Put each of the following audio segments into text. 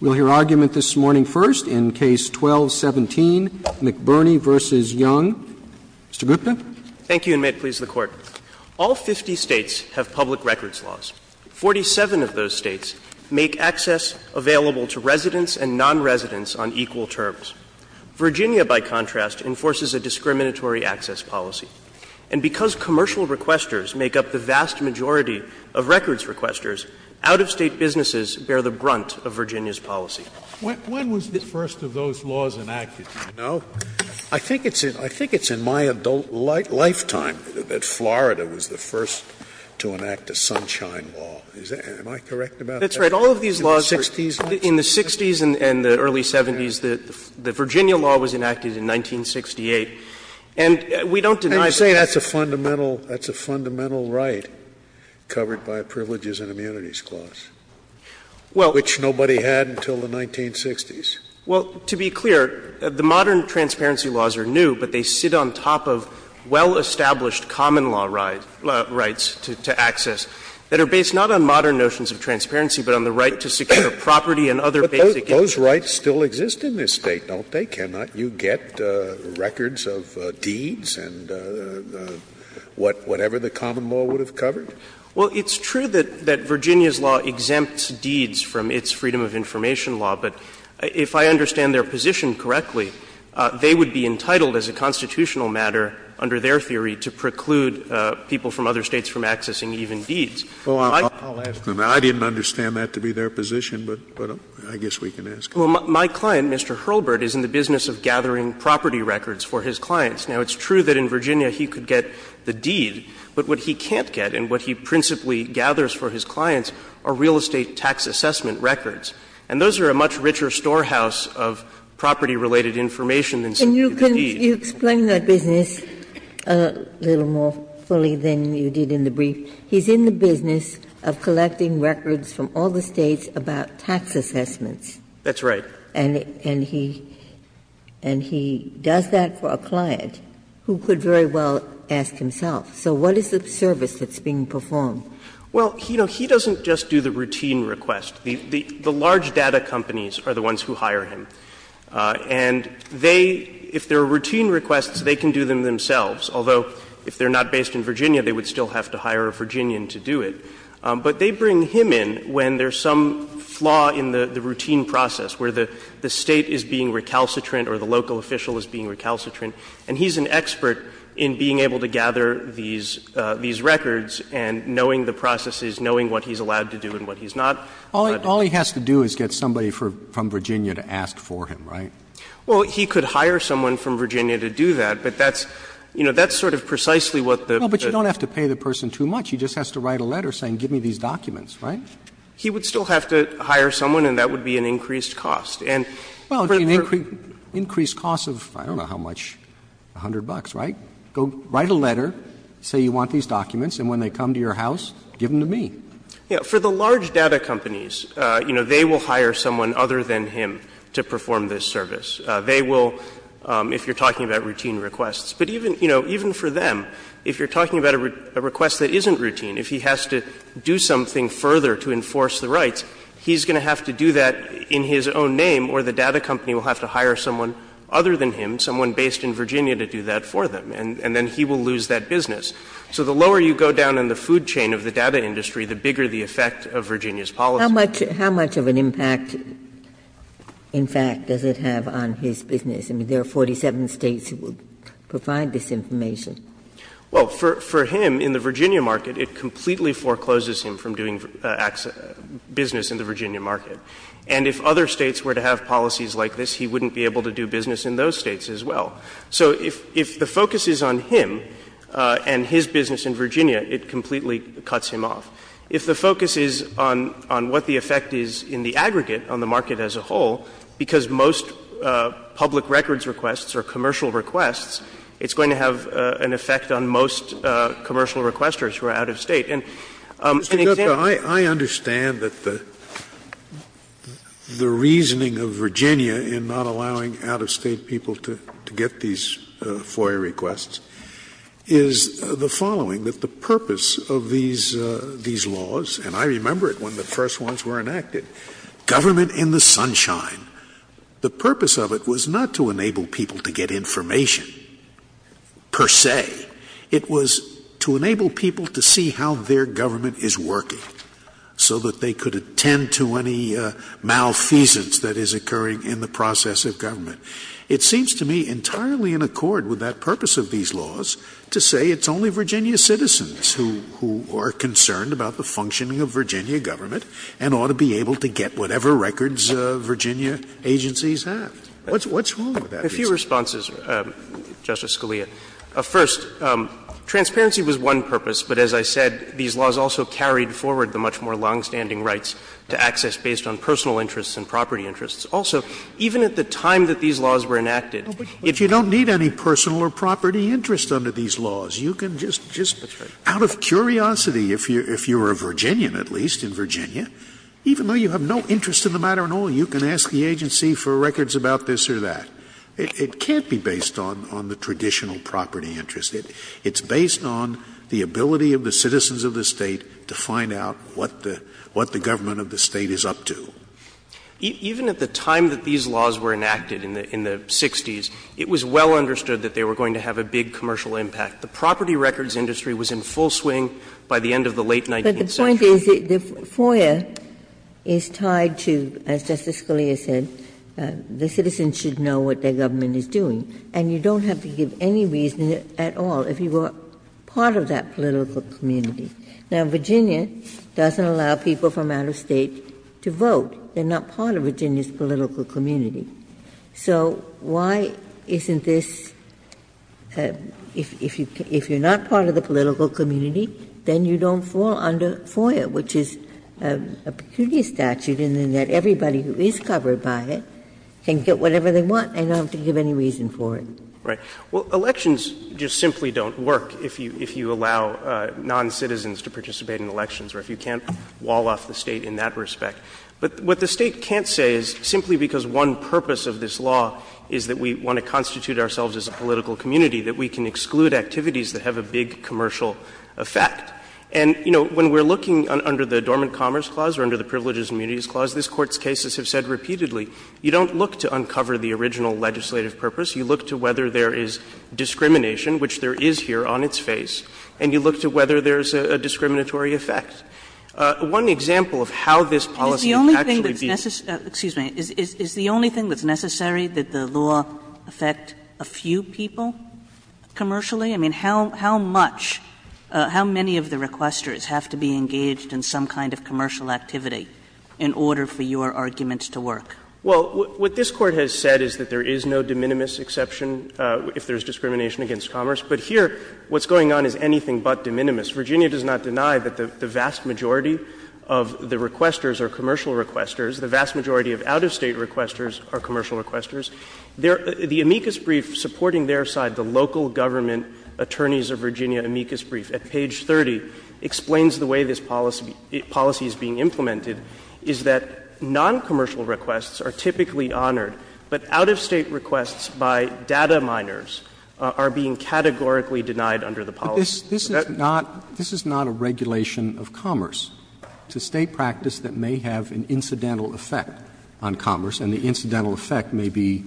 We'll hear argument this morning first in Case 12-17, McBurney v. Young. Mr. Gupta. Thank you, and may it please the Court. All 50 States have public records laws. Forty-seven of those States make access available to residents and nonresidents on equal terms. Virginia, by contrast, enforces a discriminatory access policy. And because commercial requesters make up the vast majority of records requesters, out-of-State businesses bear the brunt of Virginia's policy. Scalia, when was the first of those laws enacted, do you know? I think it's in my adult lifetime that Florida was the first to enact a Sunshine Law. Am I correct about that? That's right. All of these laws were in the 60s and the early 70s. The Virginia law was enacted in 1968. And we don't deny that. Scalia, I didn't say that's a fundamental right covered by privileges and immunities clause, which nobody had until the 1960s. Well, to be clear, the modern transparency laws are new, but they sit on top of well-established common law rights to access that are based not on modern notions of transparency, but on the right to secure property and other basic interests. But those rights still exist in this State, don't they? Can't you get records of deeds and whatever the common law would have covered? Well, it's true that Virginia's law exempts deeds from its freedom of information law, but if I understand their position correctly, they would be entitled as a constitutional matter, under their theory, to preclude people from other States from accessing even deeds. I didn't understand that to be their position, but I guess we can ask. Well, my client, Mr. Hurlburt, is in the business of gathering property records for his clients. Now, it's true that in Virginia he could get the deed, but what he can't get and what he principally gathers for his clients are real estate tax assessment records. And those are a much richer storehouse of property-related information than some of the deeds. And you can explain that business a little more fully than you did in the brief. He's in the business of collecting records from all the States about tax assessments. That's right. And he does that for a client who could very well ask himself. So what is the service that's being performed? Well, you know, he doesn't just do the routine request. The large data companies are the ones who hire him. And they, if there are routine requests, they can do them themselves, although if they're not based in Virginia, they would still have to hire a Virginian to do it. But they bring him in when there's some flaw in the routine process, where the State is being recalcitrant or the local official is being recalcitrant, and he's an expert in being able to gather these records and knowing the processes, knowing what he's allowed to do and what he's not allowed to do. All he has to do is get somebody from Virginia to ask for him, right? Well, he could hire someone from Virginia to do that, but that's, you know, that's sort of precisely what the — No, but you don't have to pay the person too much. He just has to write a letter saying, give me these documents, right? He would still have to hire someone, and that would be an increased cost. And for the first — Well, an increased cost of, I don't know how much, $100, right? Go write a letter, say you want these documents, and when they come to your house, give them to me. Yeah. For the large data companies, you know, they will hire someone other than him to perform this service. They will, if you're talking about routine requests. But even, you know, even for them, if you're talking about a request that isn't routine, if he has to do something further to enforce the rights, he's going to have to do that in his own name, or the data company will have to hire someone other than him, someone based in Virginia, to do that for them, and then he will lose that business. So the lower you go down in the food chain of the data industry, the bigger the effect of Virginia's policy. Ginsburg. How much of an impact, in fact, does it have on his business? I mean, there are 47 States that would provide this information. Well, for him, in the Virginia market, it completely forecloses him from doing business in the Virginia market. And if other States were to have policies like this, he wouldn't be able to do business in those States as well. So if the focus is on him and his business in Virginia, it completely cuts him off. If the focus is on what the effect is in the aggregate, on the market as a whole, because most public records requests are commercial requests, it's going to have an effect on most commercial requesters who are out of State. And an example of this is the law in Virginia, and it's the law in the State of Virginia. Scalia, I understand that the reasoning of Virginia in not allowing out-of-State people to get these FOIA requests is the following, that the purpose of these laws, and I remember it when the first ones were enacted, government in the sunshine. The purpose of it was not to enable people to get information per se. It was to enable people to see how their government is working so that they could attend to any malfeasance that is occurring in the process of government. It seems to me entirely in accord with that purpose of these laws to say it's only Virginia citizens who are concerned about the functioning of Virginia government and ought to be able to get whatever records Virginia agencies have. What's wrong with that? A few responses, Justice Scalia. First, transparency was one purpose, but as I said, these laws also carried forward the much more longstanding rights to access based on personal interests and property interests. Also, even at the time that these laws were enacted, if you don't need any personal or property interest under these laws, you can just out of curiosity, if you are a Virginian at least, in Virginia, even though you have no interest in the matter at all, you can ask the agency for records about this or that. It can't be based on the traditional property interest. It's based on the ability of the citizens of the State to find out what the government of the State is up to. Even at the time that these laws were enacted in the 60s, it was well understood that they were going to have a big commercial impact. The property records industry was in full swing by the end of the late 19th century. Ginsburg. But the point is that the FOIA is tied to, as Justice Scalia said, the citizens should know what their government is doing, and you don't have to give any reason at all if you are part of that political community. Now, Virginia doesn't allow people from out of State to vote. They are not part of Virginia's political community. So why isn't this, if you are not part of the political community, then you don't fall under FOIA, which is a pecuniary statute in that everybody who is covered by it can get whatever they want and not have to give any reason for it. Right. Well, elections just simply don't work if you allow noncitizens to participate in elections or if you can't wall off the State in that respect. But what the State can't say is simply because one purpose of this law is that we want to constitute ourselves as a political community, that we can exclude activities that have a big commercial effect. And, you know, when we are looking under the Dormant Commerce Clause or under the Privileges and Immunities Clause, this Court's cases have said repeatedly, you don't look to uncover the original legislative purpose. You look to whether there is discrimination, which there is here on its face, and you look to whether there is a discriminatory effect. One example of how this policy would actually be. Kagan Is the only thing that's necessary that the law affect a few people commercially? I mean, how much, how many of the requesters have to be engaged in some kind of commercial activity in order for your arguments to work? Well, what this Court has said is that there is no de minimis exception if there is discrimination against commerce. But here what's going on is anything but de minimis. Virginia does not deny that the vast majority of the requesters are commercial requesters. The vast majority of out-of-State requesters are commercial requesters. The amicus brief supporting their side, the local government attorneys of Virginia amicus brief at page 30, explains the way this policy is being implemented, is that noncommercial requests are typically honored, but out-of-State requests by data miners are being categorically denied under the policy. Roberts This is not a regulation of commerce. It's a State practice that may have an incidental effect on commerce, and the incidental effect may be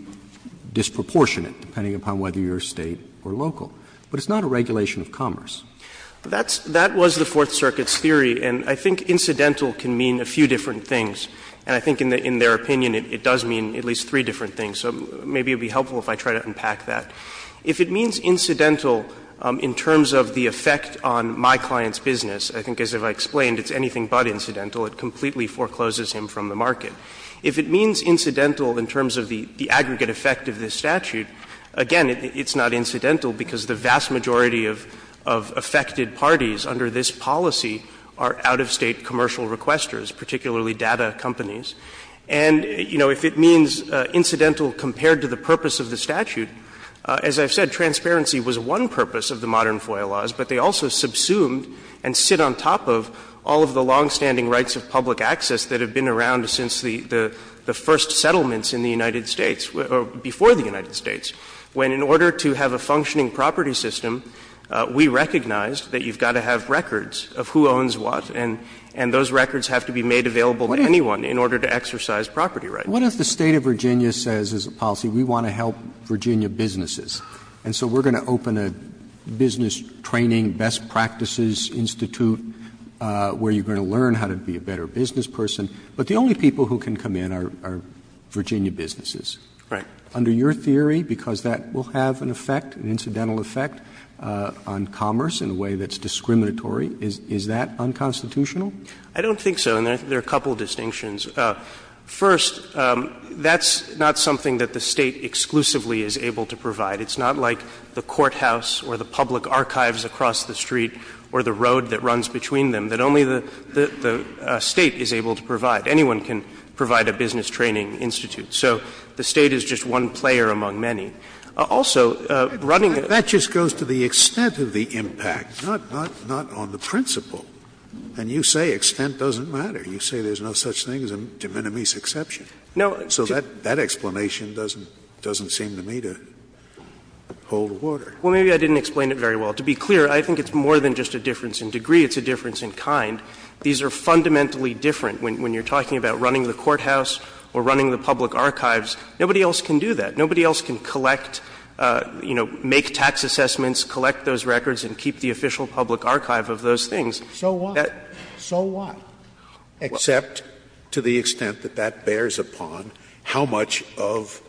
disproportionate, depending upon whether you're State or local. But it's not a regulation of commerce. That's the Fourth Circuit's theory, and I think incidental can mean a few different things. And I think in their opinion it does mean at least three different things. So maybe it would be helpful if I try to unpack that. If it means incidental in terms of the effect on my client's business, I think as I've explained, it's anything but incidental. It completely forecloses him from the market. If it means incidental in terms of the aggregate effect of this statute, again, it's not incidental because the vast majority of affected parties under this policy are out-of-State commercial requesters, particularly data companies. And, you know, if it means incidental compared to the purpose of the statute, then, as I've said, transparency was one purpose of the modern FOIA laws, but they also subsumed and sit on top of all of the longstanding rights of public access that have been around since the first settlements in the United States, or before the United States, when in order to have a functioning property system, we recognized that you've got to have records of who owns what, and those records have to be made available to anyone in order to exercise property rights. Roberts What if the State of Virginia says as a policy we want to help Virginia businesses? And so we're going to open a business training, best practices institute where you're going to learn how to be a better business person, but the only people who can come in are Virginia businesses. Under your theory, because that will have an effect, an incidental effect, on commerce in a way that's discriminatory, is that unconstitutional? I don't think so, and I think there are a couple of distinctions. First, that's not something that the State exclusively is able to provide. It's not like the courthouse or the public archives across the street or the road that runs between them, that only the State is able to provide. Anyone can provide a business training institute. So the State is just one player among many. Also, running a ---- Scalia, that just goes to the extent of the impact, not on the principle. And you say extent doesn't matter. You say there's no such thing as a de minimis exception. So that explanation doesn't seem to me to hold water. Well, maybe I didn't explain it very well. To be clear, I think it's more than just a difference in degree. It's a difference in kind. These are fundamentally different. When you're talking about running the courthouse or running the public archives, nobody else can do that. Nobody else can collect, you know, make tax assessments, collect those records, and keep the official public archive of those things. So what? So what? Except to the extent that that bears upon how much of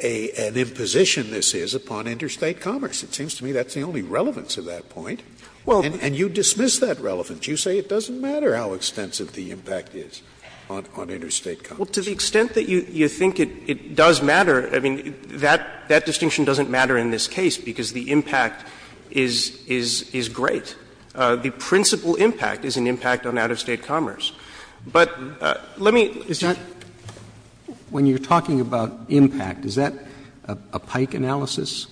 an imposition this is upon interstate commerce. It seems to me that's the only relevance of that point. And you dismiss that relevance. You say it doesn't matter how extensive the impact is on interstate commerce. Well, to the extent that you think it does matter, I mean, that distinction doesn't matter in this case, because the impact is great. The principal impact is an impact on out-of-State commerce. But let me just say. When you're talking about impact, is that a Pike analysis?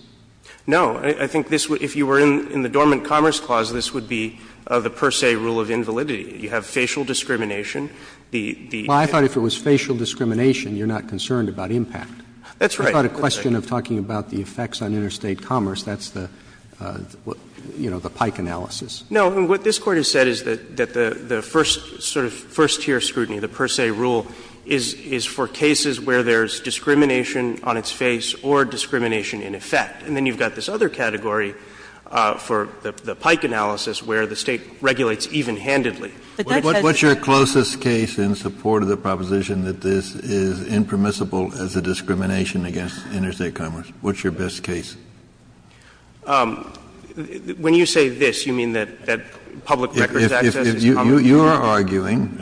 No. I think this would, if you were in the Dormant Commerce Clause, this would be the per se rule of invalidity. You have facial discrimination. Well, I thought if it was facial discrimination, you're not concerned about impact. That's right. I thought a question of talking about the effects on interstate commerce, that's the, you know, the Pike analysis. No. What this Court has said is that the first sort of first-tier scrutiny, the per se rule, is for cases where there's discrimination on its face or discrimination in effect. And then you've got this other category for the Pike analysis where the State regulates even-handedly. But that says it's not. What's your closest case in support of the proposition that this is impermissible as a discrimination against interstate commerce? What's your best case? When you say this, you mean that public records access is common? If you are arguing,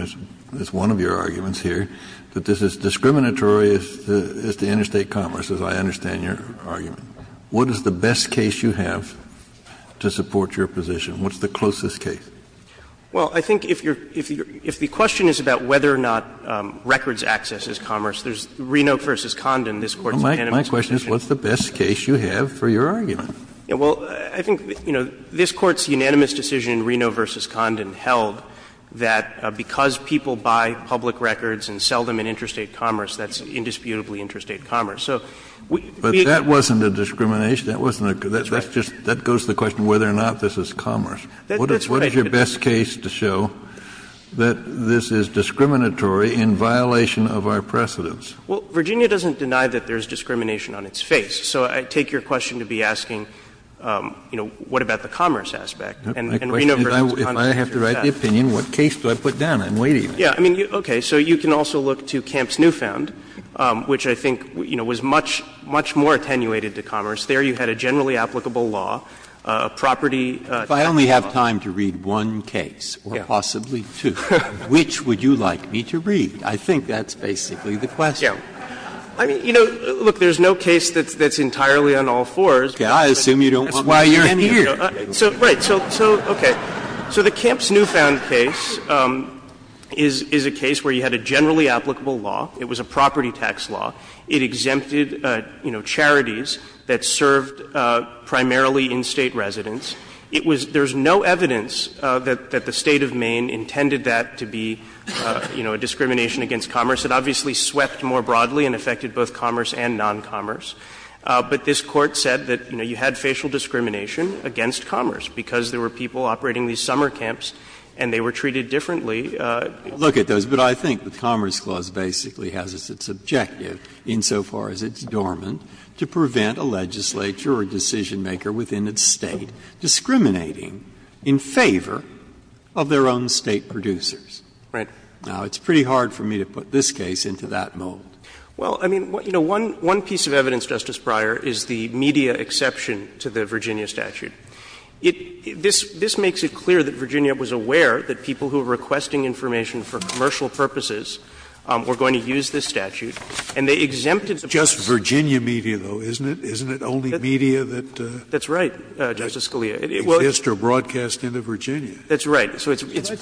as one of your arguments here, that this is discriminatory as to interstate commerce, as I understand your argument, what is the best case you have to support your position? What's the closest case? Well, I think if you're — if the question is about whether or not records access is commerce, there's Reno v. Condon, this Court's unanimous position. Kennedy, my question is, what's the best case you have for your argument? Well, I think, you know, this Court's unanimous decision in Reno v. Condon held that because people buy public records and sell them in interstate commerce, that's indisputably interstate commerce. So we need to be able to support that. But that wasn't a discrimination. That wasn't a — that's just — that goes to the question whether or not this is commerce. That's right. What is your best case to show that this is discriminatory in violation of our precedents? Well, Virginia doesn't deny that there's discrimination on its face. So I take your question to be asking, you know, what about the commerce aspect? And Reno v. Condon's answer is that. If I have to write the opinion, what case do I put down? I'm waiting. Yeah. I mean, okay. So you can also look to Camp's Newfound, which I think, you know, was much — much more attenuated to commerce. There you had a generally applicable law, a property — If I only have time to read one case or possibly two, which would you like me to read? I think that's basically the question. I mean, you know, look, there's no case that's entirely on all fours. I assume you don't want me to stand here. Right. So, okay. So the Camp's Newfound case is a case where you had a generally applicable law. It was a property tax law. It exempted, you know, charities that served primarily in-State residents. It was — there's no evidence that the State of Maine intended that to be, you know, a discrimination against commerce. It obviously swept more broadly and affected both commerce and non-commerce. But this Court said that, you know, you had facial discrimination against commerce because there were people operating these summer camps and they were treated differently. Look at those. But I think the Commerce Clause basically has as its objective, insofar as it's dormant, to prevent a legislature or decisionmaker within its State discriminating in favor of their own State producers. Right. Now, it's pretty hard for me to put this case into that mold. Well, I mean, you know, one piece of evidence, Justice Breyer, is the media exception to the Virginia statute. It — this makes it clear that Virginia was aware that people who were requesting information for commercial purposes were going to use this statute. And they exempted the person— It's just Virginia media, though, isn't it? Isn't it only media that— That's right, Justice Scalia. —exists or broadcast into Virginia? That's right. So it's— Well, it's a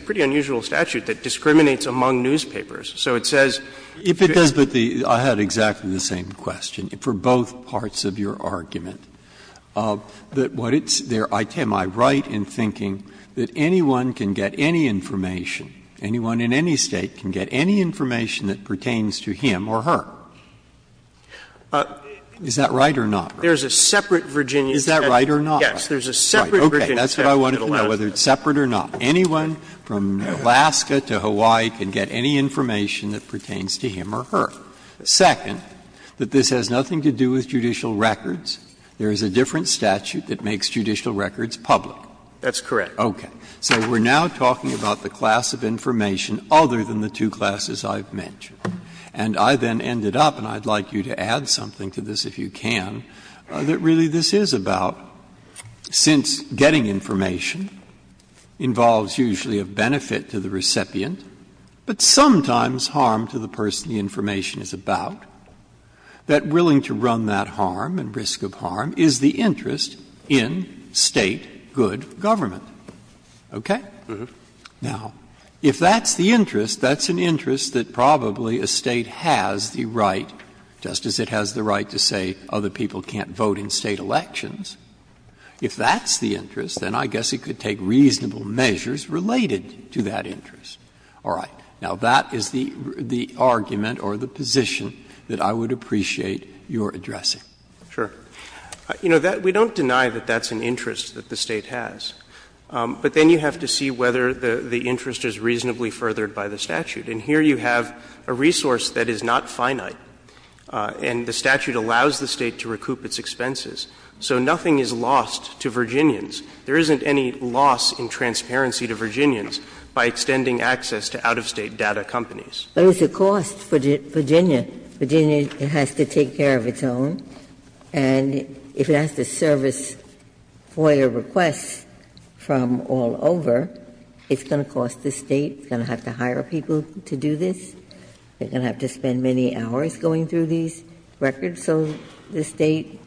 pretty unusual statute that discriminates among newspapers. So it says— If it does, but the — I had exactly the same question for both parts of your argument, that what it's — am I right in thinking that anyone can get any information, anyone in any State can get any information that pertains to him or her? Is that right or not? There's a separate Virginia statute. Is that right or not? Yes. There's a separate Virginia statute in Alaska. Okay. That's what I wanted to know, whether it's separate or not. Anyone from Alaska to Hawaii can get any information that pertains to him or her. Second, that this has nothing to do with judicial records. There is a different statute that makes judicial records public. That's correct. Okay. So we're now talking about the class of information other than the two classes I've mentioned. And I then ended up, and I'd like you to add something to this if you can, that really this is about, since getting information involves usually a benefit to the recipient, but sometimes harm to the person the information is about, that willing to run that harm and risk of harm is the interest in State good government. Okay? Mm-hmm. Now, if that's the interest, that's an interest that probably a State has the right, just as it has the right to say other people can't vote in State elections. If that's the interest, then I guess it could take reasonable measures related to that interest. All right. Now, that is the argument or the position that I would appreciate your addressing. Sure. You know, we don't deny that that's an interest that the State has. But then you have to see whether the interest is reasonably furthered by the statute. And here you have a resource that is not finite, and the statute allows the State to recoup its expenses. So nothing is lost to Virginians. There isn't any loss in transparency to Virginians by extending access to out-of-State data companies. But it's a cost for Virginia. Virginia has to take care of its own. And if it has to service FOIA requests from all over, it's going to cost the State. It's going to have to hire people to do this. They're going to have to spend many hours going through these records. So the State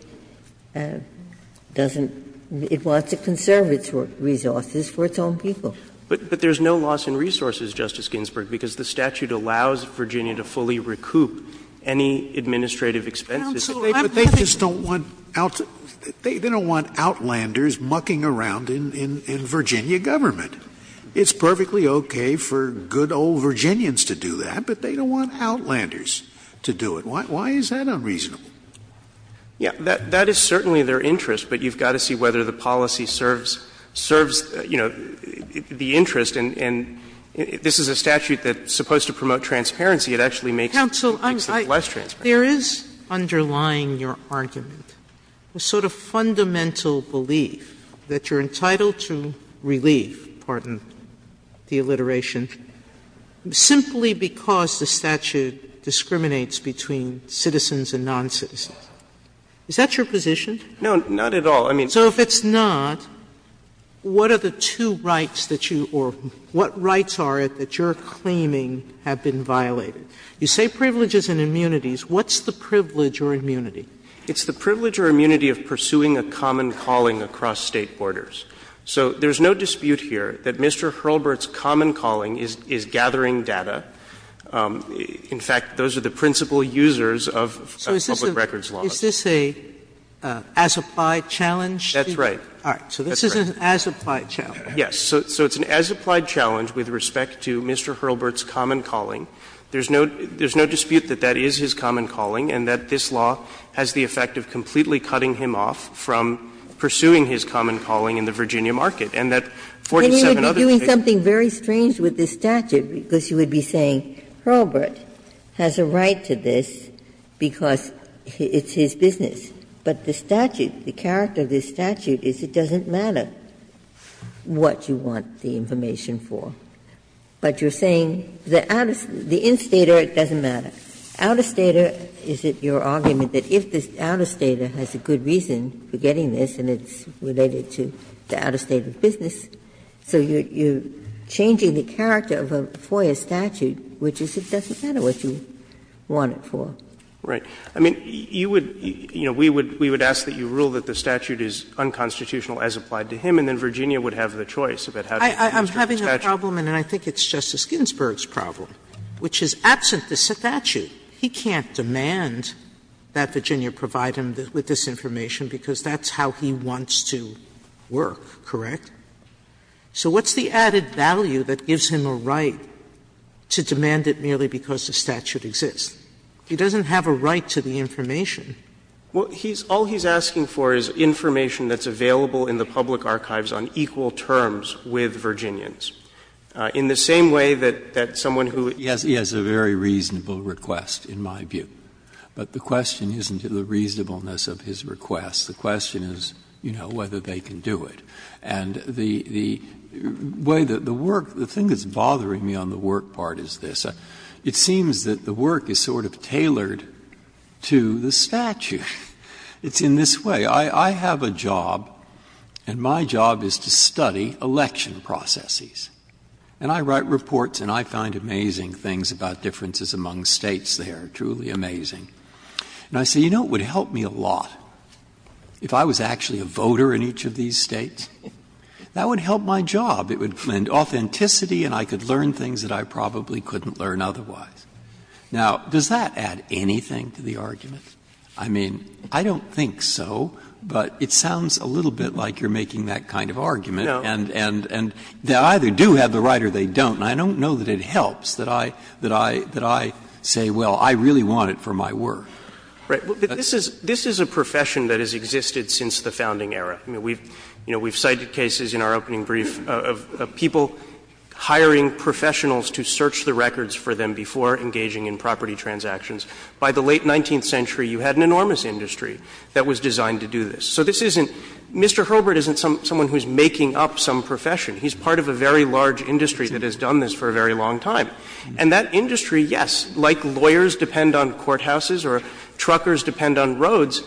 doesn't – it wants to conserve its resources for its own people. But there's no loss in resources, Justice Ginsburg, because the statute allows Virginia to fully recoup any administrative expenses. Sotomayor, but they just don't want outlanders mucking around in Virginia government. It's perfectly okay for good old Virginians to do that, but they don't want outlanders to do it. Why is that unreasonable? Yeah, that is certainly their interest, but you've got to see whether the policy serves, you know, the interest. And this is a statute that's supposed to promote transparency. It actually makes it less transparent. Sotomayor, there is underlying your argument a sort of fundamental belief that you're entitled to relief, pardon the alliteration, simply because the statute discriminates between citizens and noncitizens. Is that your position? No, not at all. I mean, so if it's not, what are the two rights that you – or what rights are it that you're claiming have been violated? You say privileges and immunities. What's the privilege or immunity? It's the privilege or immunity of pursuing a common calling across State borders. So there's no dispute here that Mr. Hurlburt's common calling is gathering data. In fact, those are the principal users of public records law. So is this a as-applied challenge? That's right. All right. So this is an as-applied challenge. Yes. So it's an as-applied challenge with respect to Mr. Hurlburt's common calling. There's no – there's no dispute that that is his common calling and that this law has the effect of completely cutting him off from pursuing his common calling in the Virginia market. And that 47 other states do the same thing. And you would be doing something very strange with this statute, because you would be saying Hurlburt has a right to this because it's his business, but the statute, the character of this statute is it doesn't matter what you want the information for. But you're saying the out-of-state or it doesn't matter. Out-of-state, is it your argument that if the out-of-state has a good reason for getting this and it's related to the out-of-state of business, so you're changing the character of a FOIA statute, which is it doesn't matter what you want it for. Right. I mean, you would – you know, we would ask that you rule that the statute is unconstitutional as applied to him, and then Virginia would have the choice about how to use the statute. Sotomayor, I'm having a problem, and I think it's Justice Ginsburg's problem, which is absent the statute. He can't demand that Virginia provide him with this information because that's how he wants to work, correct? So what's the added value that gives him a right to demand it merely because the statute exists? He doesn't have a right to the information. Well, he's – all he's asking for is information that's available in the public archives on equal terms with Virginians. In the same way that someone who – Breyer, he has a very reasonable request, in my view. But the question isn't the reasonableness of his request. The question is, you know, whether they can do it. And the way that the work – the thing that's bothering me on the work part is this. It seems that the work is sort of tailored to the statute. It's in this way. I have a job, and my job is to study election processes. And I write reports, and I find amazing things about differences among States there, truly amazing. And I say, you know, it would help me a lot if I was actually a voter in each of these States. That would help my job. It would lend authenticity, and I could learn things that I probably couldn't learn otherwise. Now, does that add anything to the argument? I mean, I don't think so, but it sounds a little bit like you're making that kind of argument. And they either do have the right or they don't. And I don't know that it helps that I say, well, I really want it for my work. Right. But this is a profession that has existed since the founding era. I mean, we've cited cases in our opening brief of people hiring professionals to search the records for them before engaging in property transactions. By the late 19th century, you had an enormous industry that was designed to do this. So this isn't — Mr. Herbert isn't someone who's making up some profession. He's part of a very large industry that has done this for a very long time. And that industry, yes, like lawyers depend on courthouses or truckers depend on roads,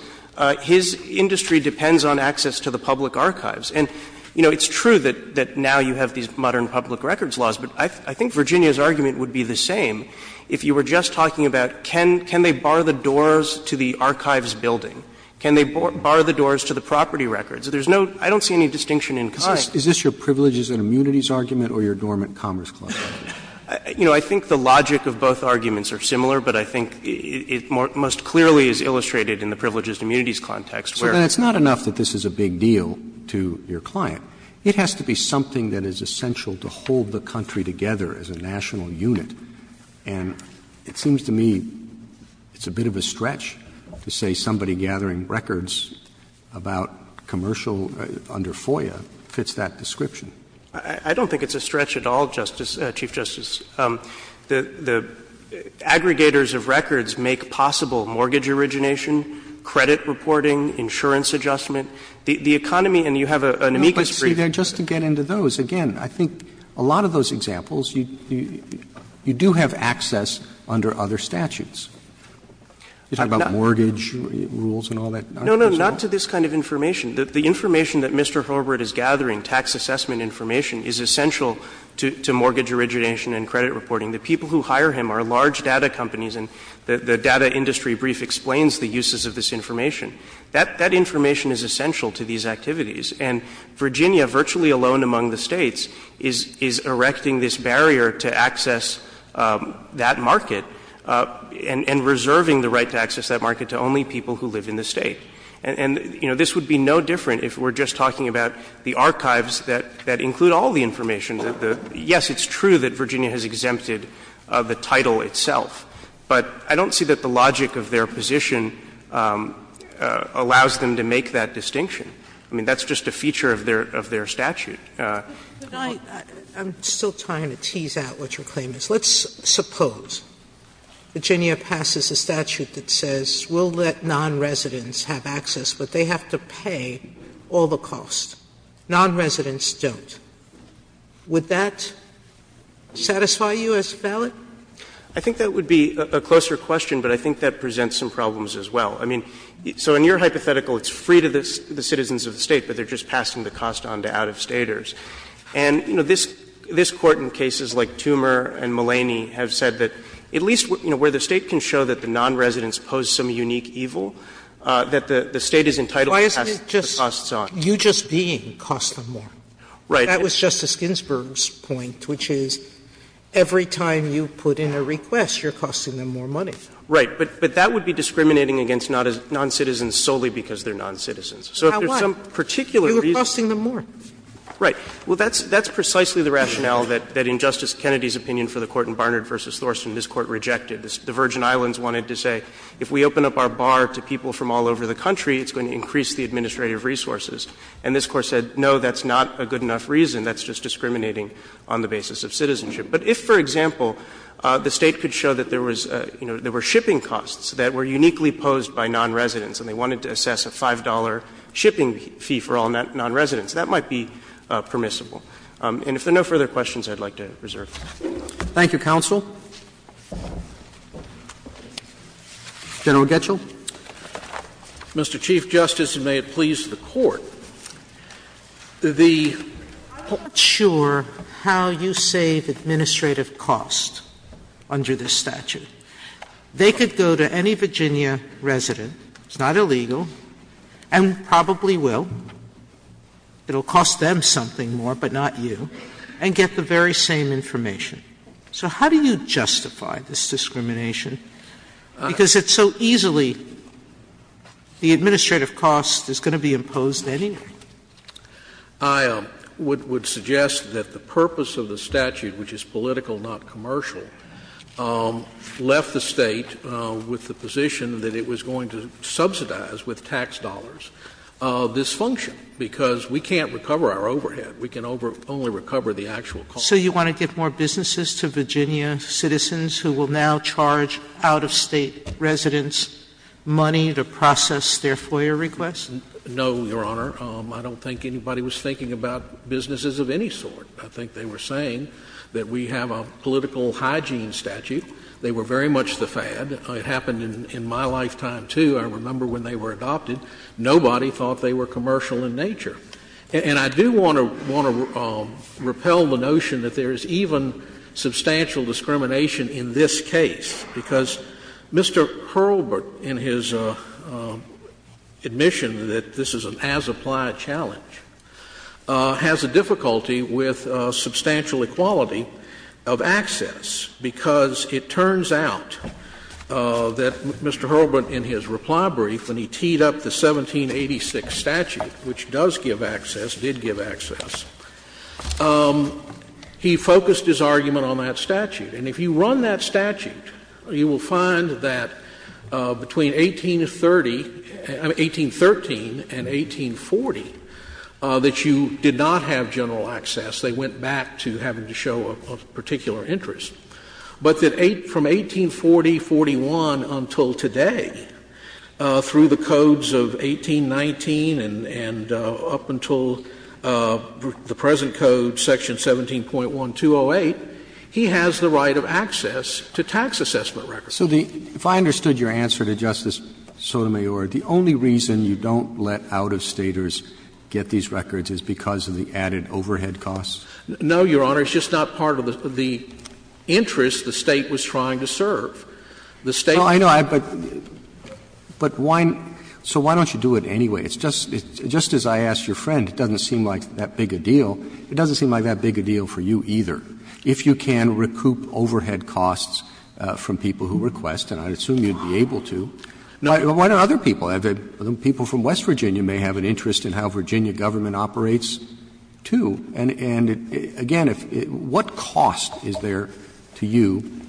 his industry depends on access to the public archives. And, you know, it's true that now you have these modern public records laws, but I think Virginia's argument would be the same. If you were just talking about can they bar the doors to the archives building? Can they bar the doors to the property records? There's no — I don't see any distinction in context. Is this your privileges and immunities argument or your dormant commerce clause? You know, I think the logic of both arguments are similar, but I think it most clearly is illustrated in the privileges and immunities context where — So then it's not enough that this is a big deal to your client. It has to be something that is essential to hold the country together as a national unit. And it seems to me it's a bit of a stretch to say somebody gathering records about commercial under FOIA fits that description. I don't think it's a stretch at all, Justice — Chief Justice. The aggregators of records make possible mortgage origination, credit reporting, insurance adjustment. The economy — and you have an amicus brief. No, but see, just to get into those, again, I think a lot of those examples, you do have access under other statutes. You talk about mortgage rules and all that. No, no, not to this kind of information. The information that Mr. Herbert is gathering, tax assessment information, is essential to mortgage origination and credit reporting. The people who hire him are large data companies, and the data industry brief explains the uses of this information. That information is essential to these activities. And Virginia, virtually alone among the States, is — is erecting this barrier to access that market and — and reserving the right to access that market to only people who live in the State. And — and, you know, this would be no different if we're just talking about the archives that — that include all the information that the — yes, it's true that Virginia has exempted the title itself, but I don't see that the logic of their position allows them to make that distinction. I mean, that's just a feature of their — of their statute. Sotomayor, I'm still trying to tease out what your claim is. Let's suppose Virginia passes a statute that says we'll let nonresidents have access, but they have to pay all the costs. Nonresidents don't. Would that satisfy you as valid? I think that would be a closer question, but I think that presents some problems as well. I mean, so in your hypothetical, it's free to the citizens of the State, but they're just passing the cost on to out-of-Staters. And, you know, this — this Court in cases like Toomer and Mulaney have said that at least, you know, where the State can show that the nonresidents pose some unique evil, that the State is entitled to pass the costs on. Why isn't it just you just being costing them more? Right. That was Justice Ginsburg's point, which is every time you put in a request, you're costing them more money. Right. But that would be discriminating against noncitizens solely because they're noncitizens. So if there's some particular reason you're costing them more. Right. Well, that's precisely the rationale that, in Justice Kennedy's opinion for the Court in Barnard v. Thorson, this Court rejected. The Virgin Islands wanted to say if we open up our bar to people from all over the country, it's going to increase the administrative resources. And this Court said, no, that's not a good enough reason. That's just discriminating on the basis of citizenship. But if, for example, the State could show that there was, you know, there were shipping costs that were uniquely posed by nonresidents and they wanted to assess a $5 shipping fee for all nonresidents, that might be permissible. And if there are no further questions, I'd like to reserve. Roberts. Thank you, counsel. General Getschel. Mr. Chief Justice, and may it please the Court, the I'm not sure how you save administrative costs under this statute. They could go to any Virginia resident, it's not illegal, and probably will. It will cost them something more, but not you, and get the very same information. So how do you justify this discrimination? Because it's so easily, the administrative cost is going to be imposed anyway. I would suggest that the purpose of the statute, which is political, not commercial, left the State with the position that it was going to subsidize with tax dollars this function, because we can't recover our overhead. We can only recover the actual costs. So you want to give more businesses to Virginia citizens who will now charge out-of-state residents money to process their FOIA requests? No, Your Honor. I don't think anybody was thinking about businesses of any sort. I think they were saying that we have a political hygiene statute. They were very much the fad. It happened in my lifetime, too. I remember when they were adopted. Nobody thought they were commercial in nature. And I do want to repel the notion that there is even substantial discrimination in this case, because Mr. Hurlburt, in his admission that this is an as-a-place challenge, has a difficulty with substantial equality of access, because it turns out that Mr. Hurlburt, in his reply brief, when he teed up the 1786 statute, which does give access, did give access, he focused his argument on that statute. And if you run that statute, you will find that between 1830 — I mean, 1813 and 1840 — that you did not have general access. They went back to having to show a particular interest. But that from 1840, 41 until today, through the codes of 1819 and up until the present code, section 17.1208, he has the right of access to tax assessment records. So the — if I understood your answer to Justice Sotomayor, the only reason you don't let out-of-Staters get these records is because of the added overhead costs? No, Your Honor. It's just not part of the interest the State was trying to serve. The State — No, I know. But why — so why don't you do it anyway? It's just — just as I asked your friend, it doesn't seem like that big a deal. It doesn't seem like that big a deal for you either. If you can recoup overhead costs from people who request, and I assume you'd be able to, why don't other people have it? People from West Virginia may have an interest in how Virginia government operates, too. And again, what cost is there to you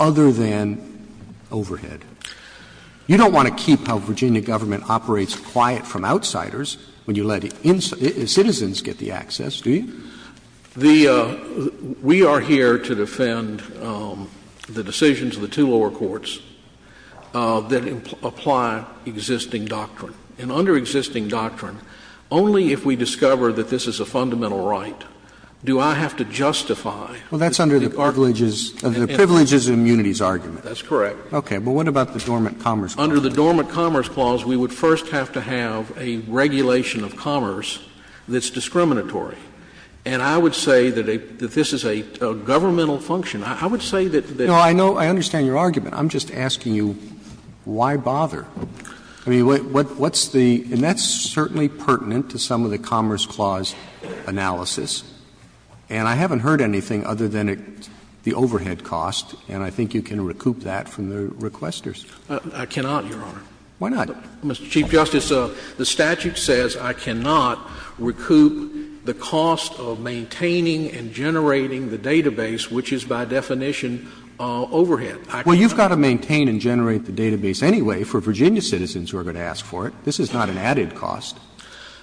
other than overhead? You don't want to keep how Virginia government operates quiet from outsiders when you let citizens get the access, do you? The — we are here to defend the decisions of the two lower courts that apply existing doctrine. And under existing doctrine, only if we discover that this is a fundamental right do I have to justify — Well, that's under the privileges and immunities argument. That's correct. Okay. But what about the dormant commerce clause? Under the dormant commerce clause, we would first have to have a regulation of commerce that's discriminatory. And I would say that this is a governmental function. I would say that the — No, I know — I understand your argument. I'm just asking you, why bother? I mean, what's the — and that's certainly pertinent to some of the Commerce Clause analysis. And I haven't heard anything other than the overhead cost, and I think you can recoup that from the requesters. I cannot, Your Honor. Why not? Mr. Chief Justice, the statute says I cannot recoup the cost of maintaining and generating the database, which is by definition overhead. I cannot. Well, you've got to maintain and generate the database anyway for Virginia citizens who are going to ask for it. This is not an added cost.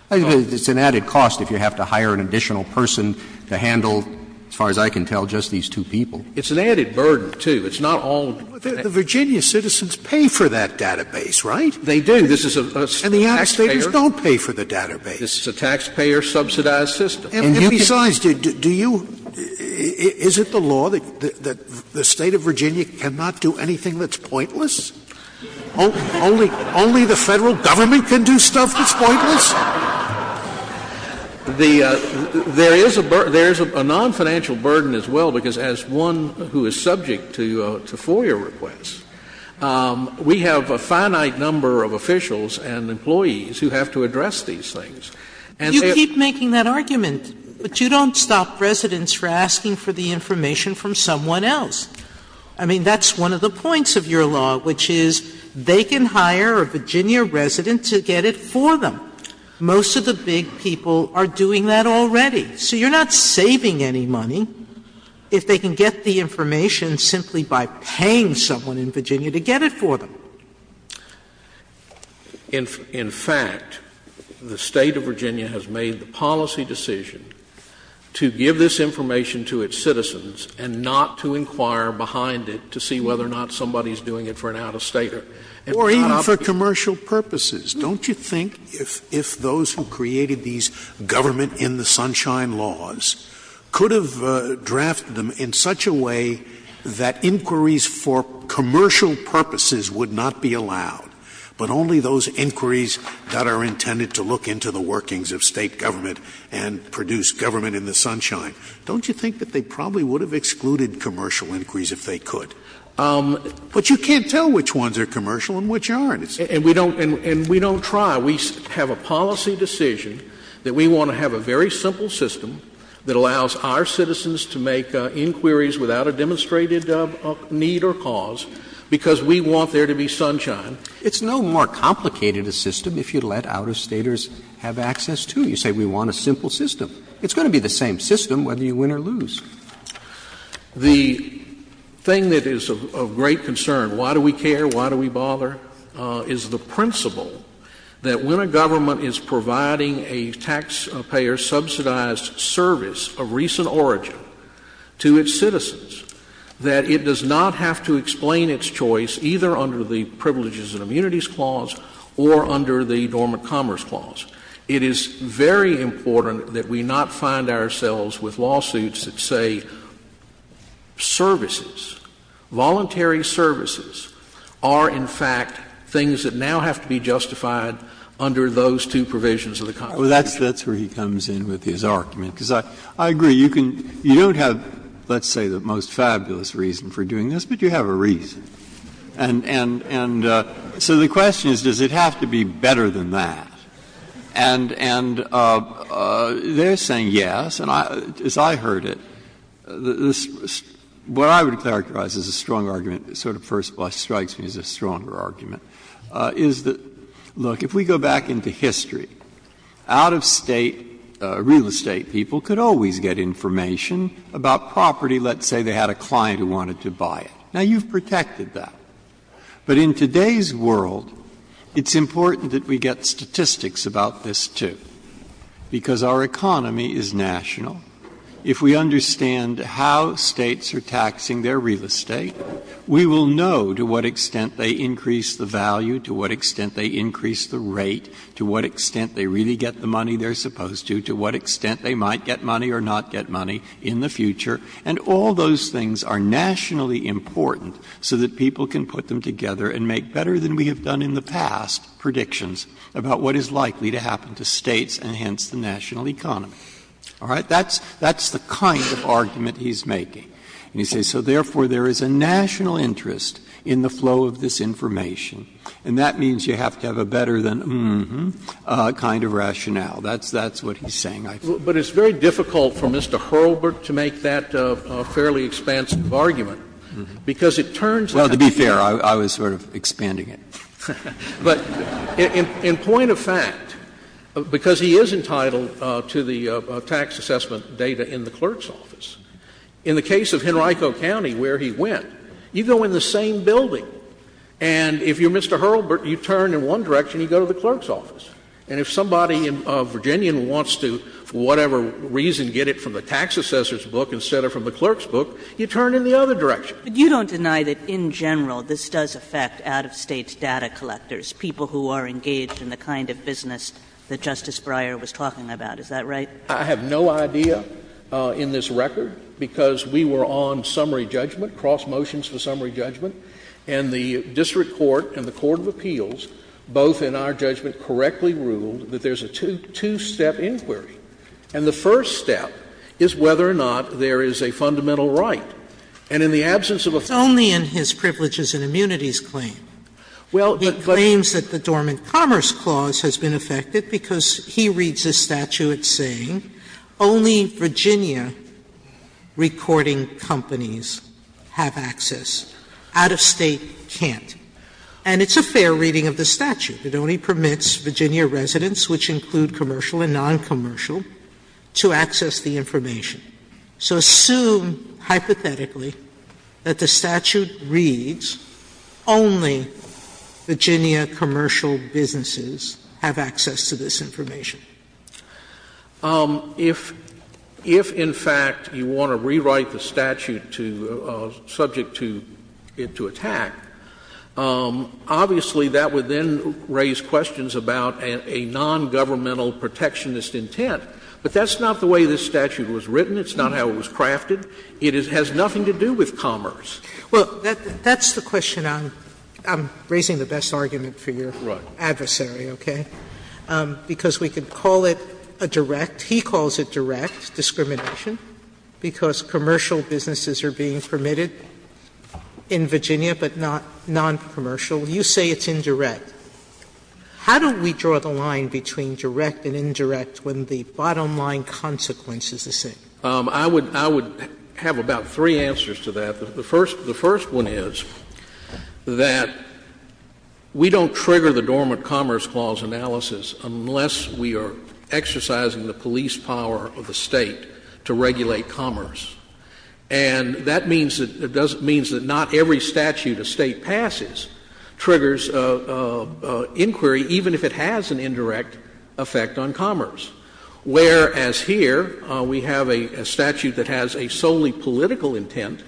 It's an added cost if you have to hire an additional person to handle, as far as I can tell, just these two people. It's an added burden, too. It's not all of it. The Virginia citizens pay for that database, right? They do. This is a taxpayer — And the out-of-staters don't pay for the database. This is a taxpayer-subsidized system. And if besides, do you — is it the law that the State of Virginia cannot do anything that's pointless? Only the Federal Government can do stuff that's pointless? There is a non-financial burden as well, because as one who is subject to FOIA requests, we have a finite number of officials and employees who have to address these things. Sotomayor, you keep making that argument, but you don't stop residents from asking for the information from someone else. I mean, that's one of the points of your law, which is they can hire a Virginia resident to get it for them. Most of the big people are doing that already. So you're not saving any money if they can get the information simply by paying someone in Virginia to get it for them. In fact, the State of Virginia has made the policy decision to give this information to its citizens and not to inquire behind it to see whether or not somebody is doing it for an out-of-stater. Or even for commercial purposes. Don't you think if those who created these government-in-the-sunshine laws could have drafted them in such a way that inquiries for commercial purposes would not be allowed, but only those inquiries that are intended to look into the workings of State government and produce government-in-the-sunshine? Don't you think that they probably would have excluded commercial inquiries if they could? But you can't tell which ones are commercial and which aren't. And we don't try. We have a policy decision that we want to have a very simple system that allows our citizens to make inquiries without a demonstrated need or cause, because we want there to be sunshine. It's no more complicated a system if you let out-of-staters have access to. You say we want a simple system. It's going to be the same system whether you win or lose. The thing that is of great concern, why do we care, why do we bother, is the principle that when a government is providing a taxpayer-subsidized service of recent origin to its citizens, that it does not have to explain its choice either under the Privileges and Immunities Clause or under the Dormant Commerce Clause. It is very important that we not find ourselves with lawsuits that say services, voluntary services, are in fact things that now have to be justified under those two provisions of the Constitution. Breyer. That's where he comes in with his argument, because I agree. You can you don't have, let's say, the most fabulous reason for doing this, but you have a reason. And so the question is, does it have to be better than that? And they're saying yes. And as I heard it, what I would characterize as a strong argument, sort of first of all strikes me as a stronger argument, is that, look, if we go back into history, out-of-state real estate people could always get information about property, let's say they had a client who wanted to buy it. Now, you've protected that. But in today's world, it's important that we get statistics about this, too, because our economy is national. If we understand how States are taxing their real estate, we will know to what extent they increase the value, to what extent they increase the rate, to what extent they really get the money they're supposed to, to what extent they might get money or not get money in the future. And all those things are nationally important so that people can put them together and make better than we have done in the past predictions about what is likely to happen to States and, hence, the national economy. All right? That's the kind of argument he's making. And he says, so therefore, there is a national interest in the flow of this information. And that means you have to have a better than mm-hmm kind of rationale. That's what he's saying, I think. Scalia. But it's very difficult for Mr. Hurlburt to make that fairly expansive argument, because it turns out that he's not. Breyer. Well, to be fair, I was sort of expanding it. But in point of fact, because he is entitled to the tax assessment data in the clerk's office, in the case of Henrico County, where he went, you go in the same building, and if you're Mr. Hurlburt, you turn in one direction, you go to the clerk's office. And if somebody in Virginia wants to, for whatever reason, get it from the tax assessor's book instead of from the clerk's book, you turn in the other direction. But you don't deny that, in general, this does affect out-of-State data collectors, people who are engaged in the kind of business that Justice Breyer was talking about, is that right? I have no idea in this record, because we were on summary judgment, cross-motions for summary judgment. And the district court and the court of appeals, both in our judgment, correctly ruled that there's a two-step inquiry. And the first step is whether or not there is a fundamental right. And in the absence of a failed- Sotomayor, Justice Sotomayor, it's only in his privileges and immunities claim. He claims that the dormant commerce clause has been affected because he reads this statute saying only Virginia recording companies have access, out-of-State can't. And it's a fair reading of the statute. It only permits Virginia residents, which include commercial and noncommercial, to access the information. So assume, hypothetically, that the statute reads only Virginia commercial businesses have access to this information. If, in fact, you want to rewrite the statute subject to it to attack, obviously that would then raise questions about a nongovernmental protectionist intent. But that's not the way this statute was written. It's not how it was crafted. It has nothing to do with commerce. Sotomayor, Justice Sotomayor, that's the question I'm raising the best argument for your adversary, okay? Because we could call it a direct – he calls it direct discrimination because commercial businesses are being permitted in Virginia, but not noncommercial. You say it's indirect. How do we draw the line between direct and indirect when the bottom line consequence is the same? I would have about three answers to that. The first one is that we don't trigger the Dormant Commerce Clause analysis unless we are exercising the police power of the State to regulate commerce. And that means that not every statute a State passes triggers inquiry, even if it has an indirect effect on commerce. Whereas here, we have a statute that has a solely political intent.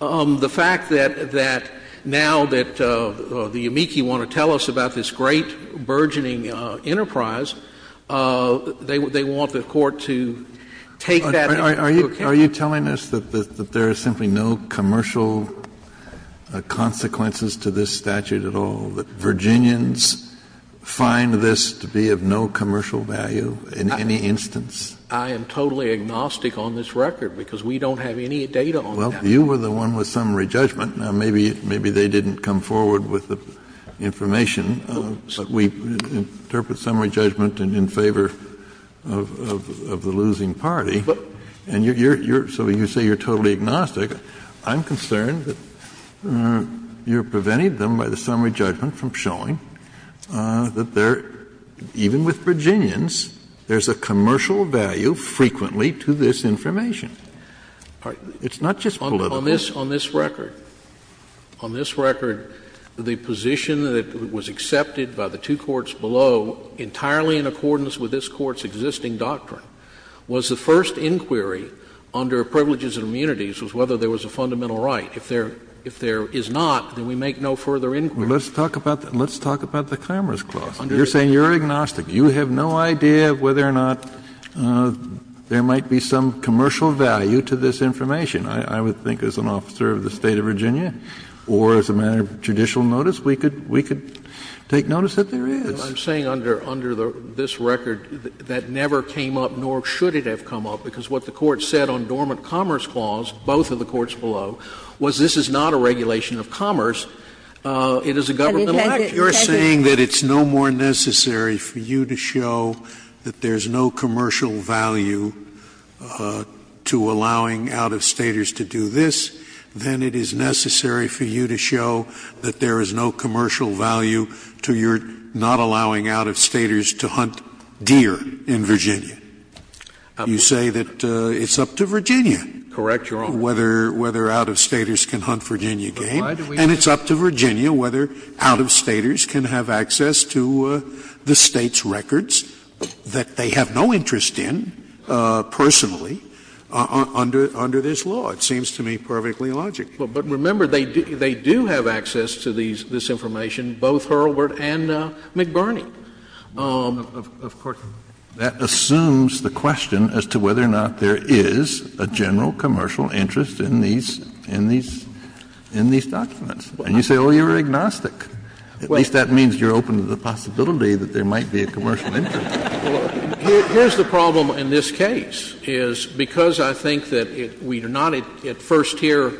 The fact that now that the amici want to tell us about this great burgeoning enterprise, they want the Court to take that into account. Kennedy, are you telling us that there is simply no commercial consequences to this statute at all? That Virginians find this to be of no commercial value in any instance? I am totally agnostic on this record because we don't have any data on that. Well, you were the one with summary judgment. Now, maybe they didn't come forward with the information, but we interpret summary judgment in favor of the losing party. But you're – so you say you're totally agnostic. I'm concerned that you're preventing them by the summary judgment from showing that there, even with Virginians, there's a commercial value frequently to this information. It's not just political. On this record, on this record, the position that was accepted by the two courts below entirely in accordance with this Court's existing doctrine was the first inquiry under privileges and immunities was whether there was a fundamental right. If there is not, then we make no further inquiry. Let's talk about the commerce clause. You're saying you're agnostic. You have no idea of whether or not there might be some commercial value to this information. I would think as an officer of the State of Virginia or as a matter of judicial notice, we could take notice that there is. I'm saying under this record that never came up, nor should it have come up, because what the Court said on dormant commerce clause, both of the courts below, was this is not a regulation of commerce, it is a governmental act. You're saying that it's no more necessary for you to show that there's no commercial value to allowing out-of-Staters to do this than it is necessary for you to show that there is no commercial value to your not allowing out-of-Staters to hunt deer in Virginia. You say that it's up to Virginia whether out-of-Staters can hunt Virginia game, and it's up to Virginia whether out-of-Staters can have access to the State's records that they have no interest in personally under this law. It seems to me perfectly logical. But remember, they do have access to this information, both Hurlburt and McBurney. Of course, that assumes the question as to whether or not there is a general commercial interest in these documents. And you say, oh, you're agnostic. At least that means you're open to the possibility that there might be a commercial interest. Harris. Here's the problem in this case, is because I think that we are not at first-tier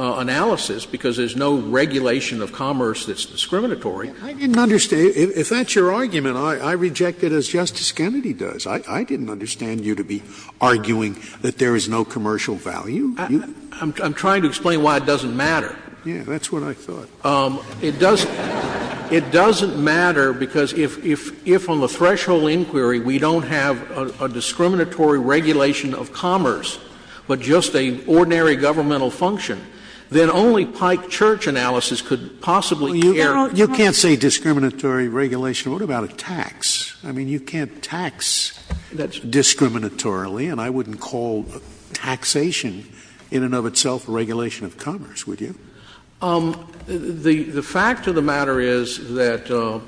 analysis, because there's no regulation of commerce that's discriminatory. Scalia. I didn't understand. If that's your argument, I reject it as Justice Kennedy does. I didn't understand you to be arguing that there is no commercial value. I'm trying to explain why it doesn't matter. Yeah, that's what I thought. It doesn't matter because if on the threshold inquiry we don't have a discriminatory regulation of commerce, but just an ordinary governmental function, then only Pike Church analysis could possibly carry. You can't say discriminatory regulation. What about a tax? I mean, you can't tax discriminatorily, and I wouldn't call taxation in and of itself a regulation of commerce, would you? The fact of the matter is that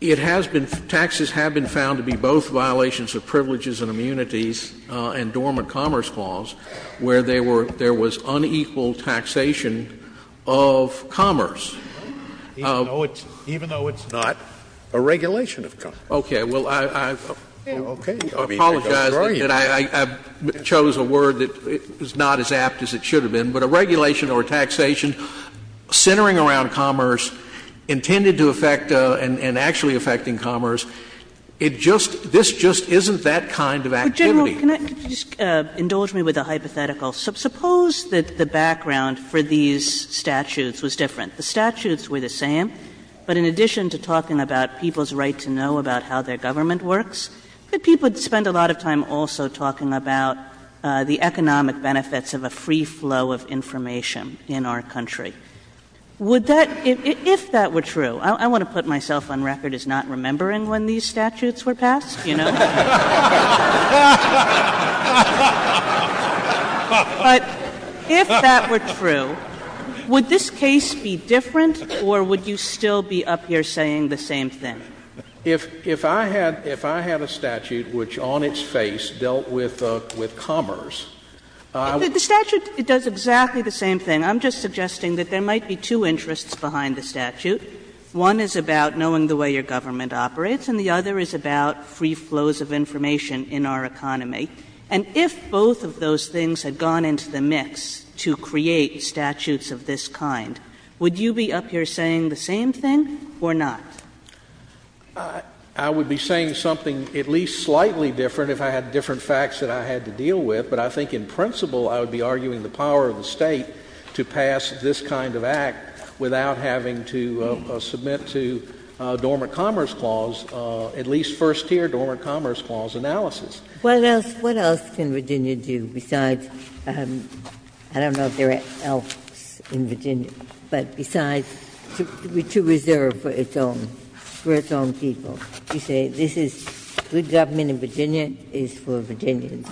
it has been — taxes have been found to be both violations of privileges and immunities and dormant commerce clause, where there was unequal taxation of commerce. Even though it's not a regulation of commerce. Okay. Well, I've apologized. I chose a word that is not as apt as it should have been. But a regulation or a taxation centering around commerce intended to affect and actually affecting commerce, it just — this just isn't that kind of activity. Could you just indulge me with a hypothetical? Suppose that the background for these statutes was different. The statutes were the same, but in addition to talking about people's right to know about how their government works, could people spend a lot of time also talking about the economic benefits of a free flow of information in our country? Would that — if that were true — I want to put myself on record as not remembering when these statutes were passed, you know. But if that were true, would this case be different, or would you still be up here saying the same thing? If I had a statute which on its face dealt with commerce, I would— The statute, it does exactly the same thing. I'm just suggesting that there might be two interests behind the statute. One is about knowing the way your government operates, and the other is about free flows of information. And if both of those things had gone into the mix to create statutes of this kind, would you be up here saying the same thing or not? I would be saying something at least slightly different if I had different facts that I had to deal with. But I think in principle, I would be arguing the power of the State to pass this kind of act without having to submit to a Dormant Commerce Clause, at least first here, Dormant Commerce Clause analysis. Ginsburg. What else can Virginia do besides, I don't know if there are elves in Virginia, but besides to reserve for its own, for its own people? You say this is, good government in Virginia is for Virginians.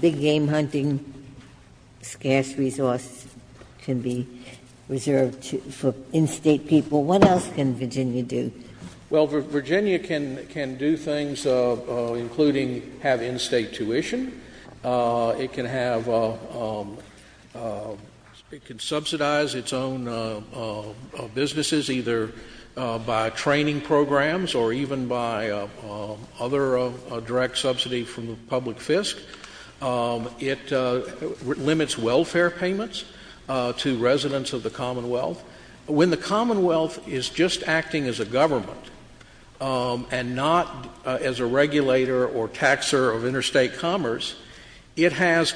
Big game hunting, scarce resources can be reserved for in-State people. What else can Virginia do? Well, Virginia can do things including have in-State tuition. It can have, it can subsidize its own businesses either by training programs or even by other direct subsidy from the public fisc. It limits welfare payments to residents of the Commonwealth. When the Commonwealth is just acting as a government and not as a regulator or taxer of inter-State commerce, it has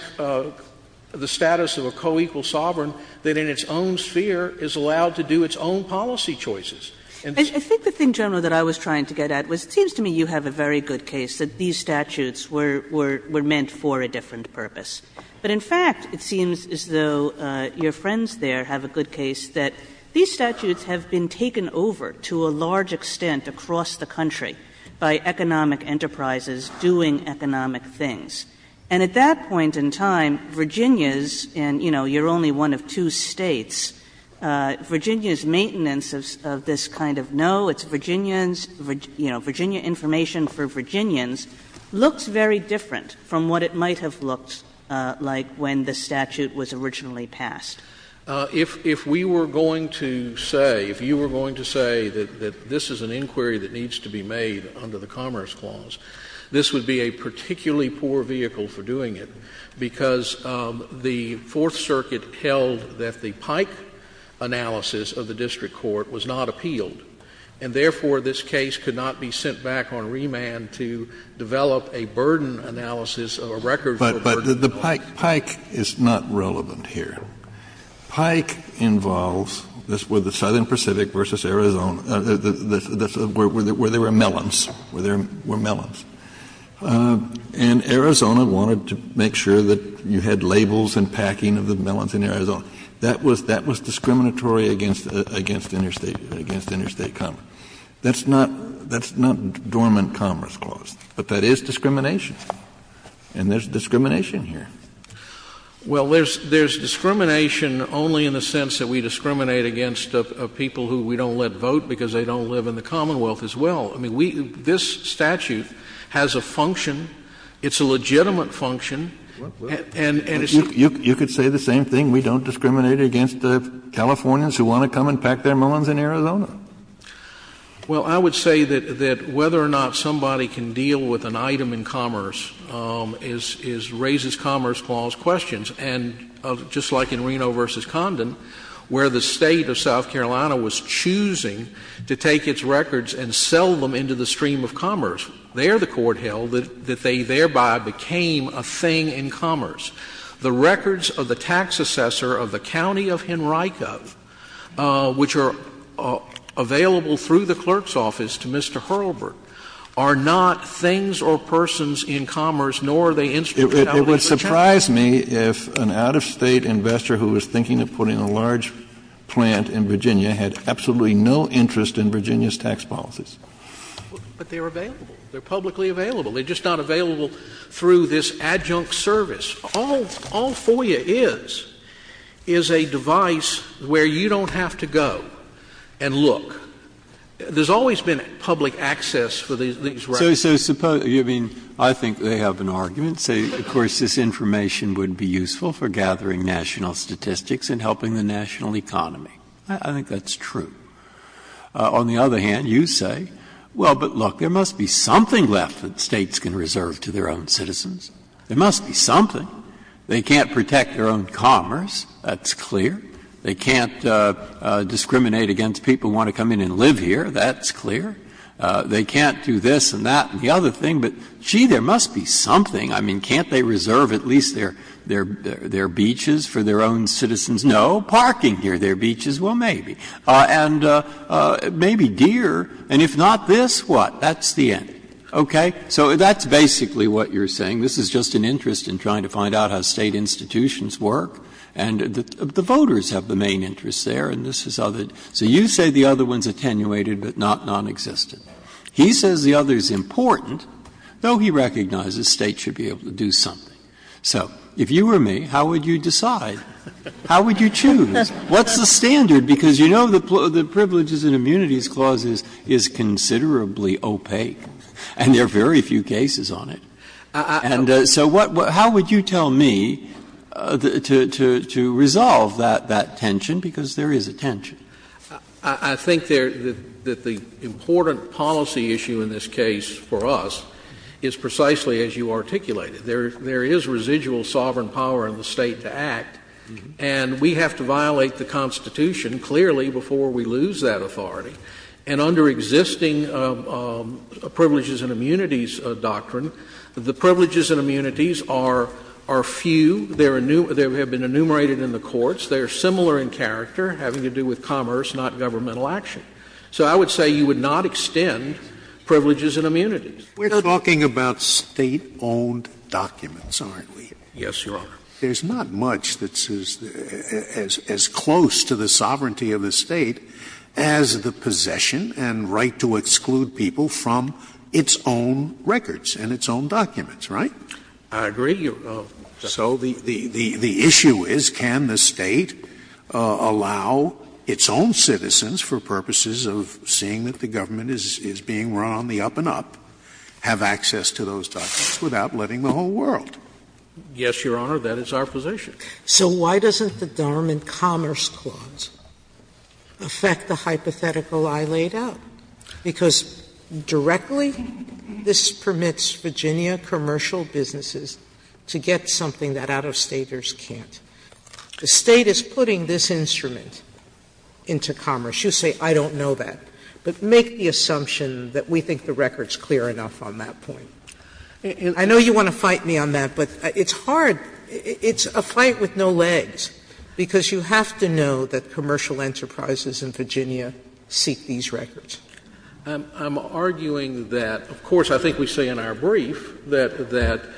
the status of a co-equal sovereign that in its own sphere is allowed to do its own policy choices. I think the thing, General, that I was trying to get at was it seems to me you have a very good case that these statutes were meant for a different purpose. But in fact, it seems as though your friends there have a good case that these statutes have been taken over to a large extent across the country by economic enterprises doing economic things. And at that point in time, Virginia's, and, you know, you're only one of two states, Virginia's maintenance of this kind of, no, it's Virginians, you know, Virginia information for Virginians looks very different from what it might have looked like when the statute was originally passed. If we were going to say, if you were going to say that this is an inquiry that needs to be made under the Commerce Clause, this would be a particularly poor vehicle for doing it because the Fourth Circuit held that the Pike analysis of the district court was not appealed. And therefore, this case could not be sent back on remand to develop a burden analysis or record for burden analysis. Kennedy, but the Pike is not relevant here. Pike involves, this was the Southern Pacific versus Arizona, where there were melons, where there were melons, and Arizona wanted to make sure that you had labels and packing of the melons in Arizona. That was discriminatory against interstate commerce. That's not dormant Commerce Clause. But that is discrimination. And there's discrimination here. Well, there's discrimination only in the sense that we discriminate against people who we don't let vote because they don't live in the Commonwealth as well. I mean, this statute has a function. It's a legitimate function. Kennedy, you could say the same thing. We don't discriminate against Californians who want to come and pack their melons in Arizona. Well, I would say that whether or not somebody can deal with an item in commerce is raises Commerce Clause questions. And just like in Reno v. Condon, where the State of South Carolina was choosing to take its records and sell them into the stream of commerce, there the Court held that they thereby became a thing in commerce. The records of the tax assessor of the County of Henricov, which are available through the clerk's office to Mr. Hurlburt, are not things or persons in commerce, nor are they instrumentally protected. It would surprise me if an out-of-state investor who was thinking of putting a large plant in Virginia had absolutely no interest in Virginia's tax policies. But they're available. They're publicly available. They're just not available through this adjunct service. All FOIA is, is a device where you don't have to go and look. There's always been public access for these records. Breyer, I think they have an argument, say, of course, this information would be useful for gathering national statistics and helping the national economy. I think that's true. On the other hand, you say, well, but look, there must be something left that States can reserve to their own citizens. There must be something. They can't protect their own commerce. That's clear. They can't discriminate against people who want to come in and live here. That's clear. They can't do this and that and the other thing. But, gee, there must be something. I mean, can't they reserve at least their beaches for their own citizens? No. Parking near their beaches? Well, maybe. And maybe deer, and if not this, what? That's the end. Okay? So that's basically what you're saying. This is just an interest in trying to find out how State institutions work, and the voters have the main interest there, and this is other. So you say the other one is attenuated but not nonexistent. He says the other is important, though he recognizes States should be able to do something. So if you were me, how would you decide? How would you choose? What's the standard? Because you know the Privileges and Immunities Clause is considerably opaque, and there are very few cases on it. And so how would you tell me to resolve that tension? Because there is a tension. I think that the important policy issue in this case for us is precisely as you articulated. There is residual sovereign power in the State to act, and we have to violate the Constitution clearly before we lose that authority. And under existing Privileges and Immunities doctrine, the privileges and immunities are few. They have been enumerated in the courts. They are similar in character, having to do with commerce, not governmental action. So I would say you would not extend privileges and immunities. Scalia, we're talking about State-owned documents, aren't we? Yes, Your Honor. There's not much that's as close to the sovereignty of the State as the possession and right to exclude people from its own records and its own documents, right? I agree. So the issue is can the State allow its own citizens, for purposes of seeing that the government is being run on the up-and-up, have access to those documents without letting the whole world? Yes, Your Honor. That is our position. So why doesn't the Darman Commerce Clause affect the hypothetical I laid out? Because directly this permits Virginia commercial businesses to get something that out-of-Staters can't. The State is putting this instrument into commerce. You say I don't know that. But make the assumption that we think the record is clear enough on that point. I know you want to fight me on that, but it's hard. It's a fight with no legs, because you have to know that commercial enterprises in Virginia seek these records. I'm arguing that, of course, I think we say in our brief that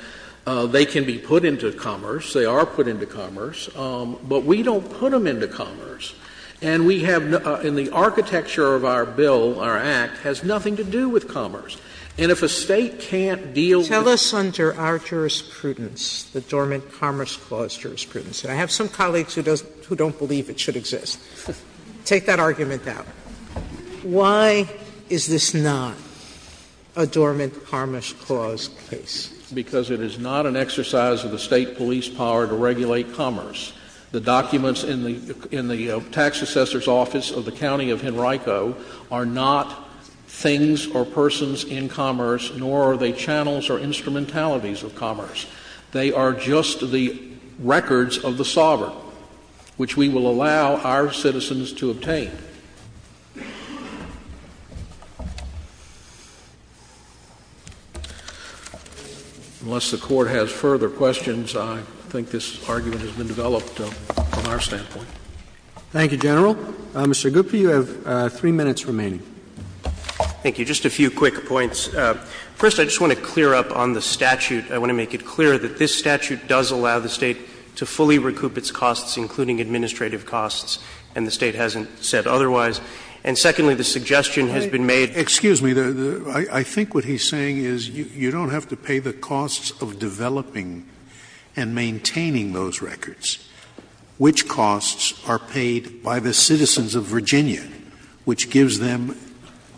they can be put into commerce, they are put into commerce, but we don't put them into commerce. And we have, in the architecture of our bill, our act, has nothing to do with commerce. And if a State can't deal with it. Tell us under our jurisprudence, the Dormant Commerce Clause jurisprudence, and I have some colleagues who don't believe it should exist, take that argument out. Why is this not a Dormant Commerce Clause case? Because it is not an exercise of the State police power to regulate commerce. The documents in the Tax Assessor's Office of the County of Henrico are not things or persons in commerce, nor are they channels or instrumentalities of commerce. They are just the records of the sovereign, which we will allow our citizens to obtain. Unless the Court has further questions, I think this argument has been developed from our standpoint. Thank you, General. Mr. Gupta, you have three minutes remaining. Thank you. Just a few quick points. First, I just want to clear up on the statute. I want to make it clear that this statute does allow the State to fully recoup its costs, including administrative costs, and the State hasn't said otherwise. And secondly, the suggestion has been made. Excuse me. I think what he's saying is you don't have to pay the costs of developing and maintaining those records, which costs are paid by the citizens of Virginia, which gives them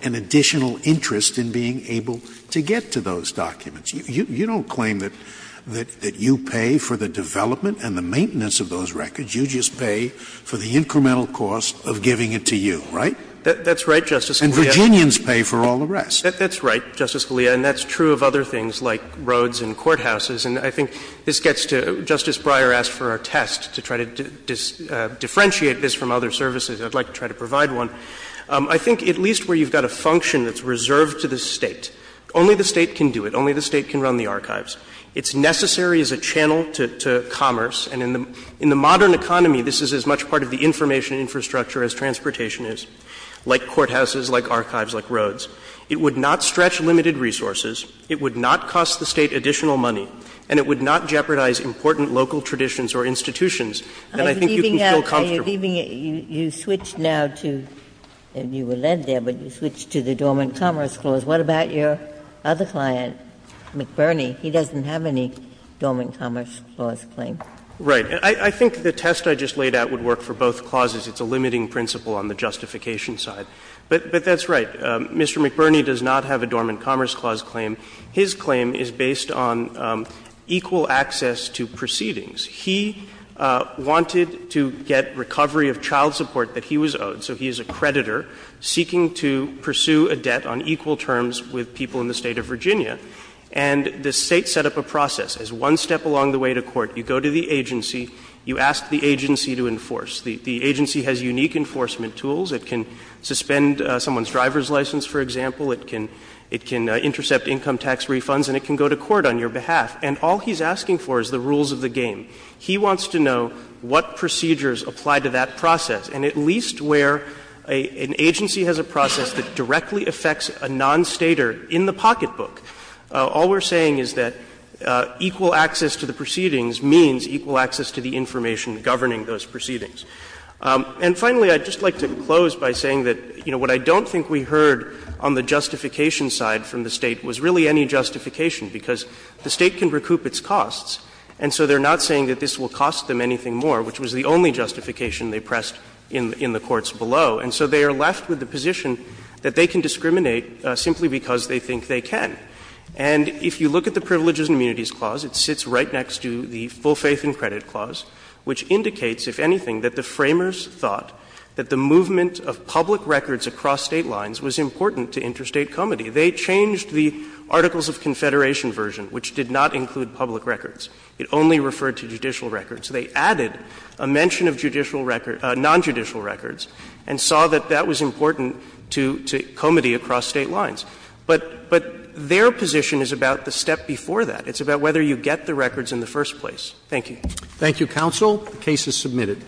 an additional interest in being able to get to those documents. You don't claim that you pay for the development and the maintenance of those records. You just pay for the incremental cost of giving it to you, right? That's right, Justice Scalia. And Virginians pay for all the rest. That's right, Justice Scalia. And that's true of other things like roads and courthouses. And I think this gets to Justice Breyer asked for a test to try to differentiate this from other services. I'd like to try to provide one. I think at least where you've got a function that's reserved to the State, only the State can do it. Only the State can run the archives. It's necessary as a channel to commerce. And in the modern economy, this is as much part of the information infrastructure as transportation is, like courthouses, like archives, like roads. It would not stretch limited resources. It would not cost the State additional money. And it would not jeopardize important local traditions or institutions. And I think you can feel comfortable. Ginsburg. Are you leaving it? You switched now to the Dormant Commerce Clause. What about your other client, McBurney? He doesn't have any Dormant Commerce Clause claim. Right. I think the test I just laid out would work for both clauses. It's a limiting principle on the justification side. But that's right. Mr. McBurney does not have a Dormant Commerce Clause claim. His claim is based on equal access to proceedings. He wanted to get recovery of child support that he was owed, so he is a creditor seeking to pursue a debt on equal terms with people in the State of Virginia. And the State set up a process. As one step along the way to court, you go to the agency, you ask the agency to enforce. The agency has unique enforcement tools. It can suspend someone's driver's license, for example. It can intercept income tax refunds, and it can go to court on your behalf. And all he's asking for is the rules of the game. He wants to know what procedures apply to that process, and at least where an agency has a process that directly affects a non-Stater in the pocketbook. All we're saying is that equal access to the proceedings means equal access to the information governing those proceedings. And finally, I'd just like to close by saying that, you know, what I don't think we heard on the justification side from the State was really any justification, because the State can recoup its costs, and so they're not saying that this will cost them anything more, which was the only justification they pressed in the courts below, and so they are left with the position that they can discriminate simply because they think they can. And if you look at the Privileges and Immunities Clause, it sits right next to the Equal Faith and Credit Clause, which indicates, if anything, that the Framers thought that the movement of public records across State lines was important to interstate comity. They changed the Articles of Confederation version, which did not include public records. It only referred to judicial records. They added a mention of judicial record — nonjudicial records, and saw that that was important to — to comity across State lines. But — but their position is about the step before that. It's about whether you get the records in the first place. Thank you. Roberts. Thank you, counsel. The case is submitted.